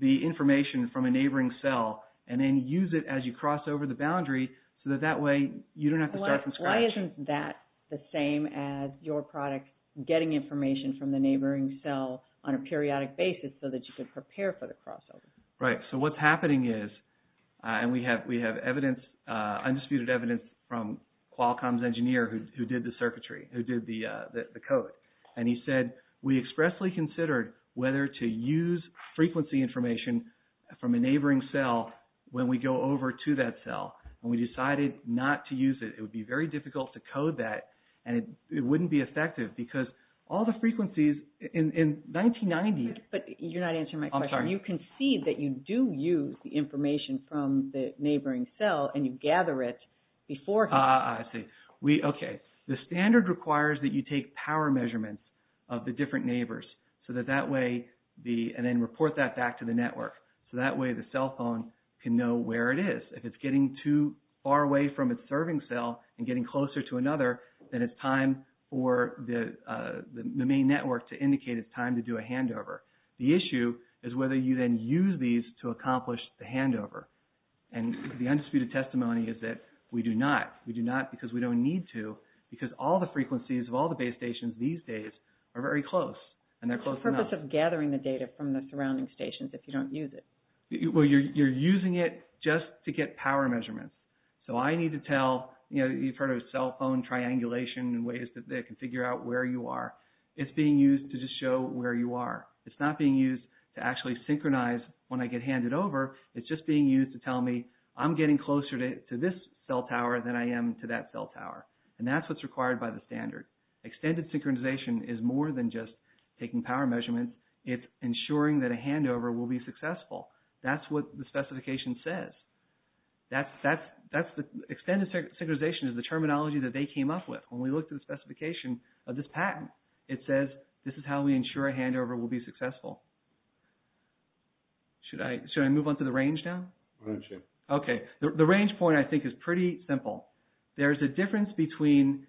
the information from a neighboring cell and then use it as you cross over the boundary so that that way you don't have to start from scratch. Why isn't that the same as your product getting information from the neighboring cell on a periodic basis so that you can prepare for the crossover? Right. So what's happening is, and we have undisputed evidence from Qualcomm's engineer who did the circuitry, who did the code, and he said we expressly considered whether to use frequency information from a neighboring cell when we go over to that cell. When we decided not to use it, it would be very difficult to code that, and it wouldn't be effective because all the frequencies in 1990s… But you're not answering my question. I'm sorry. You concede that you do use the information from the neighboring cell and you gather it beforehand. I see. Okay. The standard requires that you take power measurements of the different neighbors so that that way the… and then report that back to the network. So that way the cell phone can know where it is. If it's getting too far away from its serving cell and getting closer to another, then it's time for the main network to indicate it's time to do a handover. The issue is whether you then use these to accomplish the handover, and the undisputed testimony is that we do not. We do not because we don't need to because all the frequencies of all the base stations these days are very close, and they're close enough. What's the cost of gathering the data from the surrounding stations if you don't use it? Well, you're using it just to get power measurements. So I need to tell, you know, you've heard of cell phone triangulation and ways that they can figure out where you are. It's being used to just show where you are. It's not being used to actually synchronize when I get handed over. It's just being used to tell me I'm getting closer to this cell tower than I am to that cell tower, and that's what's required by the standard. Extended synchronization is more than just taking power measurements. It's ensuring that a handover will be successful. That's what the specification says. Extended synchronization is the terminology that they came up with. When we looked at the specification of this patent, it says this is how we ensure a handover will be successful. Should I move on to the range now? Why don't you? Okay. The range point, I think, is pretty simple. There's a difference between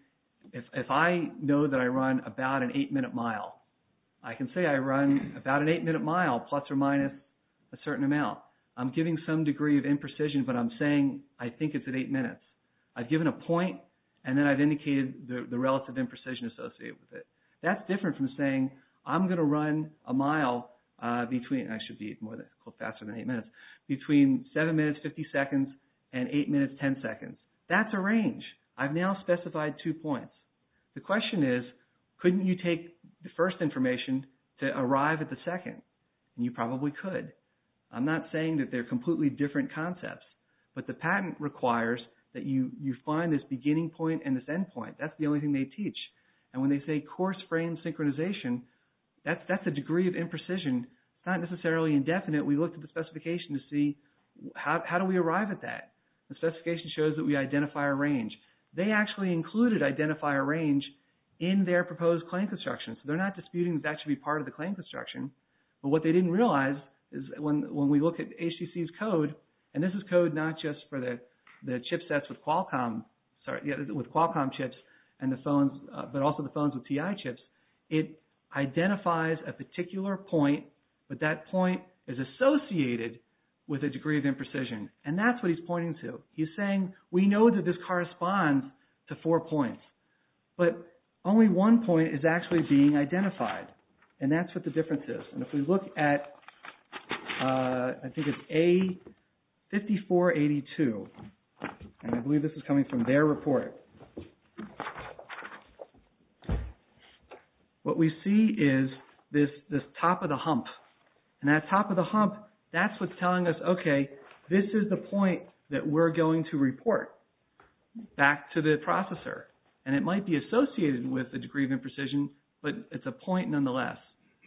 if I know that I run about an eight-minute mile, I can say I run about an eight-minute mile, plus or minus a certain amount. I'm giving some degree of imprecision, but I'm saying I think it's at eight minutes. I've given a point, and then I've indicated the relative imprecision associated with it. That's different from saying I'm going to run a mile between – I should be faster than eight minutes – between seven minutes, 50 seconds, and eight minutes, 10 seconds. That's a range. I've now specified two points. The question is couldn't you take the first information to arrive at the second? You probably could. I'm not saying that they're completely different concepts, but the patent requires that you find this beginning point and this end point. That's the only thing they teach. And when they say coarse frame synchronization, that's a degree of imprecision. It's not necessarily indefinite. We looked at the specification to see how do we arrive at that. The specification shows that we identify a range. They actually included identify a range in their proposed claim construction, so they're not disputing that that should be part of the claim construction. But what they didn't realize is when we look at HTC's code, and this is code not just for the chipsets with Qualcomm, sorry, with Qualcomm chips and the phones, but also the phones with TI chips, it identifies a particular point, but that point is associated with a degree of imprecision. And that's what he's pointing to. He's saying we know that this corresponds to four points, but only one point is actually being identified. And that's what the difference is. And if we look at, I think it's A5482, and I believe this is coming from their report, what we see is this top of the hump. And that top of the hump, that's what's telling us, okay, this is the point that we're going to report back to the processor. And it might be associated with a degree of imprecision, but it's a point nonetheless.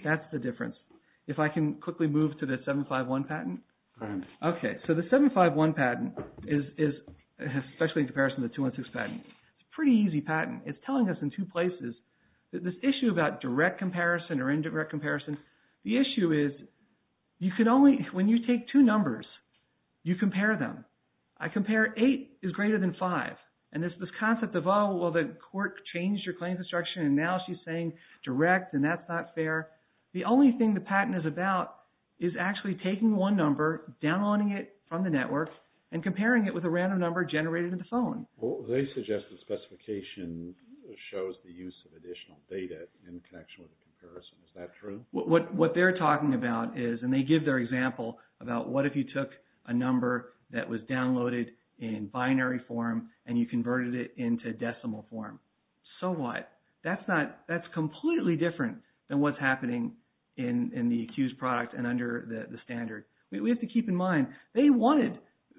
That's the difference. If I can quickly move to the 751 patent. Okay, so the 751 patent is, especially in comparison to the 216 patent, it's a pretty easy patent. It's telling us in two places that this issue about direct comparison or indirect comparison, the issue is you can only, when you take two numbers, you compare them. I compare eight is greater than five. And there's this concept of, oh, well, the court changed your claims instruction, and now she's saying direct, and that's not fair. The only thing the patent is about is actually taking one number, downloading it from the network, and comparing it with a random number generated in the phone. They suggest that specification shows the use of additional data in connection with the comparison. Is that true? What they're talking about is, and they give their example about what if you took a number that was downloaded in binary form and you converted it into decimal form. So what? That's completely different than what's happening in the accused product and under the standard. We have to keep in mind, they wanted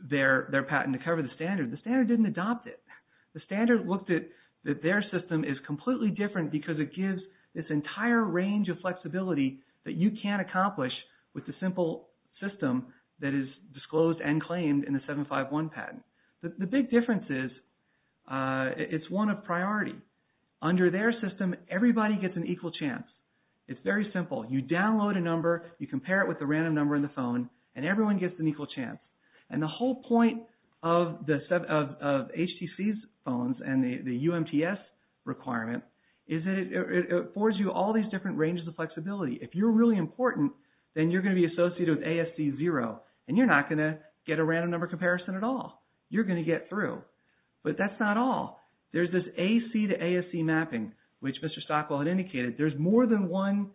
their patent to cover the standard. The standard didn't adopt it. The standard looked at that their system is completely different because it gives this entire range of flexibility that you can't accomplish with the simple system that is disclosed and claimed in the 751 patent. The big difference is it's one of priority. Under their system, everybody gets an equal chance. It's very simple. You download a number, you compare it with a random number in the phone, and everyone gets an equal chance. And the whole point of HTC's phones and the UMTS requirement is that it affords you all these different ranges of flexibility. If you're really important, then you're going to be associated with ASC zero, and you're not going to get a random number comparison at all. You're going to get through. But that's not all. There's this AC to ASC mapping, which Mr. Stockwell had indicated. There's more than one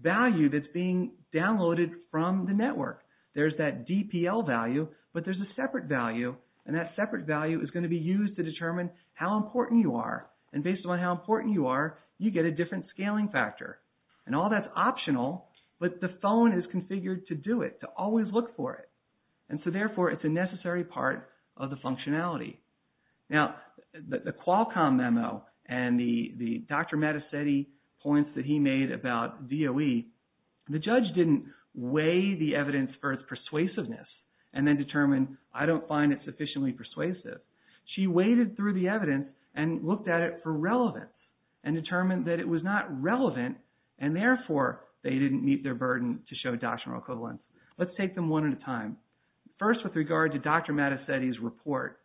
value that's being downloaded from the network. There's that DPL value, but there's a separate value, and that separate value is going to be used to determine how important you are. And based on how important you are, you get a different scaling factor. And all that's optional, but the phone is configured to do it, to always look for it. And so, therefore, it's a necessary part of the functionality. Now, the Qualcomm memo and the Dr. Mattacetti points that he made about DOE, the judge didn't weigh the evidence for its persuasiveness and then determine, I don't find it sufficiently persuasive. She weighted through the evidence and looked at it for relevance and determined that it was not relevant, and therefore, they didn't meet their burden to show doctrinal equivalence. Let's take them one at a time. First, with regard to Dr. Mattacetti's report,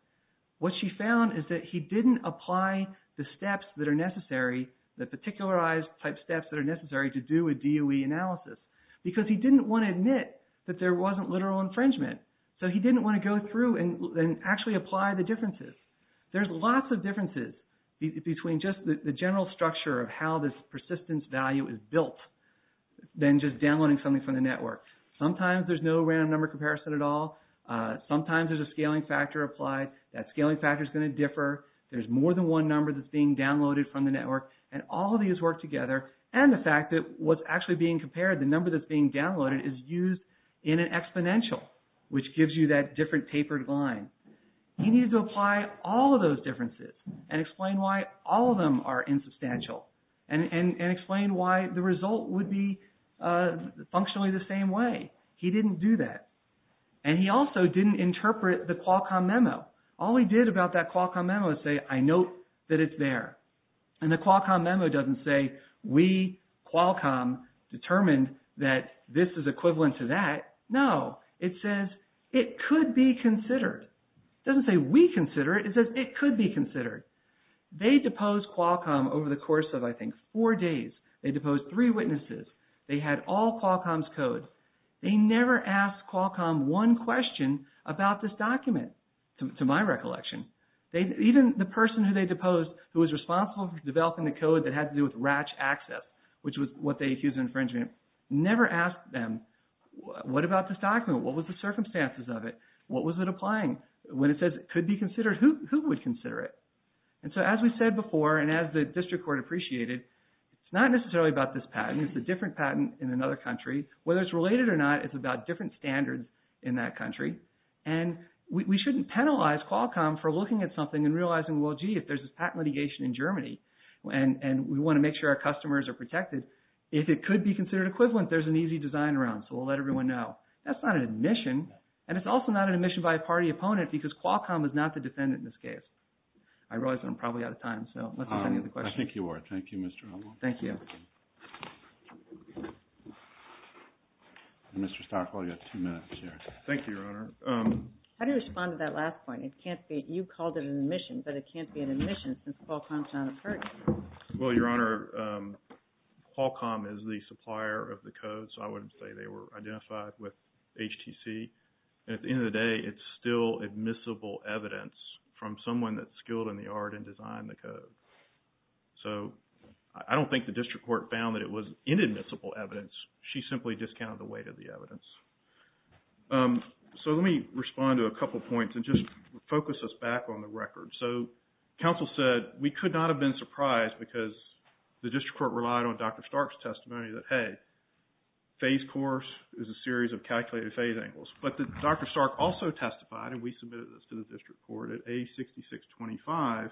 what she found is that he didn't apply the steps that are necessary, the particularized type steps that are necessary to do a DOE analysis, because he didn't want to admit that there wasn't literal infringement. So, he didn't want to go through and actually apply the differences. There's lots of differences between just the general structure of how this persistence value is built than just downloading something from the network. Sometimes there's no random number comparison at all. Sometimes there's a scaling factor applied. That scaling factor is going to differ. There's more than one number that's being downloaded from the network, and all of these work together. And the fact that what's actually being compared, the number that's being downloaded, is used in an exponential, which gives you that different tapered line. He needed to apply all of those differences and explain why all of them are insubstantial, and explain why the result would be functionally the same way. He didn't do that. And he also didn't interpret the Qualcomm memo. All he did about that Qualcomm memo is say, I note that it's there. And the Qualcomm memo doesn't say, we, Qualcomm, determined that this is equivalent to that. No, it says, it could be considered. It doesn't say, we consider it. It says, it could be considered. They deposed Qualcomm over the course of, I think, four days. They deposed three witnesses. They had all Qualcomm's code. They never asked Qualcomm one question about this document, to my recollection. Even the person who they deposed, who was responsible for developing the code that had to do with RACH access, which was what they accused of infringement, never asked them, what about this document? What was the circumstances of it? What was it applying? When it says, it could be considered, who would consider it? And so, as we said before, and as the district court appreciated, it's not necessarily about this patent. It's a different patent in another country. Whether it's related or not, it's about different standards in that country. And we shouldn't penalize Qualcomm for looking at something and realizing, well, gee, if there's this patent litigation in Germany, and we want to make sure our customers are protected, if it could be considered equivalent, there's an easy design around, so we'll let everyone know. That's not an admission. And it's also not an admission by a party opponent, because Qualcomm is not the defendant in this case. I realize that I'm probably out of time, so unless there's any other questions. I think you are. Thank you, Mr. Howell. Thank you. Mr. Stockwell, you have two minutes here. Thank you, Your Honor. How do you respond to that last point? You called it an admission, but it can't be an admission since Qualcomm is not a party. Well, Your Honor, Qualcomm is the supplier of the code, so I wouldn't say they were identified with HTC. At the end of the day, it's still admissible evidence from someone that's skilled in the art and design of the code. So I don't think the district court found that it was inadmissible evidence. She simply discounted the weight of the evidence. So let me respond to a couple of points and just focus us back on the record. So counsel said we could not have been surprised because the district court relied on Dr. Stark's testimony that, hey, phase course is a series of calculated phase angles. But Dr. Stark also testified, and we submitted this to the district court at A6625,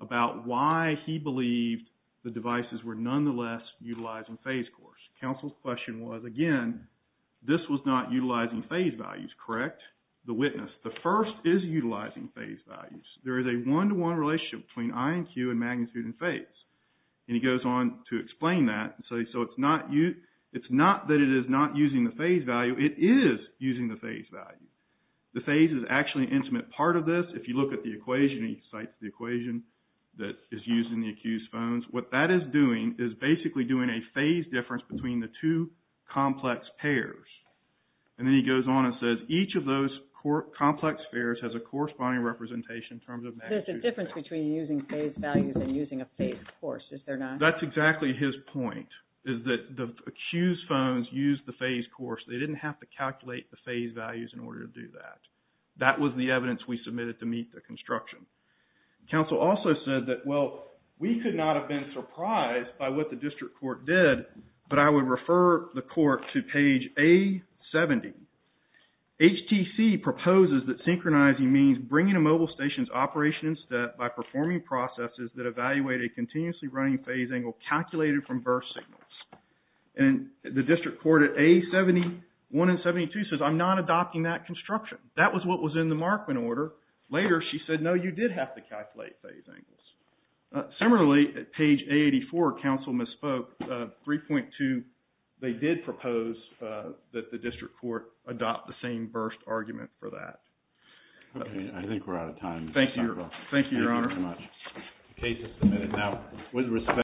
about why he believed the devices were nonetheless utilizing phase course. Counsel's question was, again, this was not utilizing phase values, correct? The witness. The first is utilizing phase values. There is a one-to-one relationship between I and Q and magnitude and phase. And he goes on to explain that. So it's not that it is not using the phase value. It is using the phase value. The phase is actually an intimate part of this. If you look at the equation, he cites the equation that is used in the accused phones. What that is doing is basically doing a phase difference between the two complex pairs. And then he goes on and says each of those complex pairs has a corresponding representation in terms of magnitude. There's a difference between using phase values and using a phase course, is there not? That's exactly his point, is that the accused phones used the phase course. They didn't have to calculate the phase values in order to do that. That was the evidence we submitted to meet the construction. Counsel also said that, well, we could not have been surprised by what the district court did, but I would refer the court to page A70. HTC proposes that synchronizing means bringing a mobile station's operation in step by performing processes that evaluate a continuously running phase angle calculated from birth signals. And the district court at A71 and 72 says, I'm not adopting that construction. That was what was in the Markman order. Later, she said, no, you did have to calculate phase angles. Similarly, at page A84, counsel misspoke. 3.2, they did propose that the district court adopt the same burst argument for that. Okay. I think we're out of time. Thank you. Thank you, Your Honor. Thank you very much. The case is submitted. Now, with respect.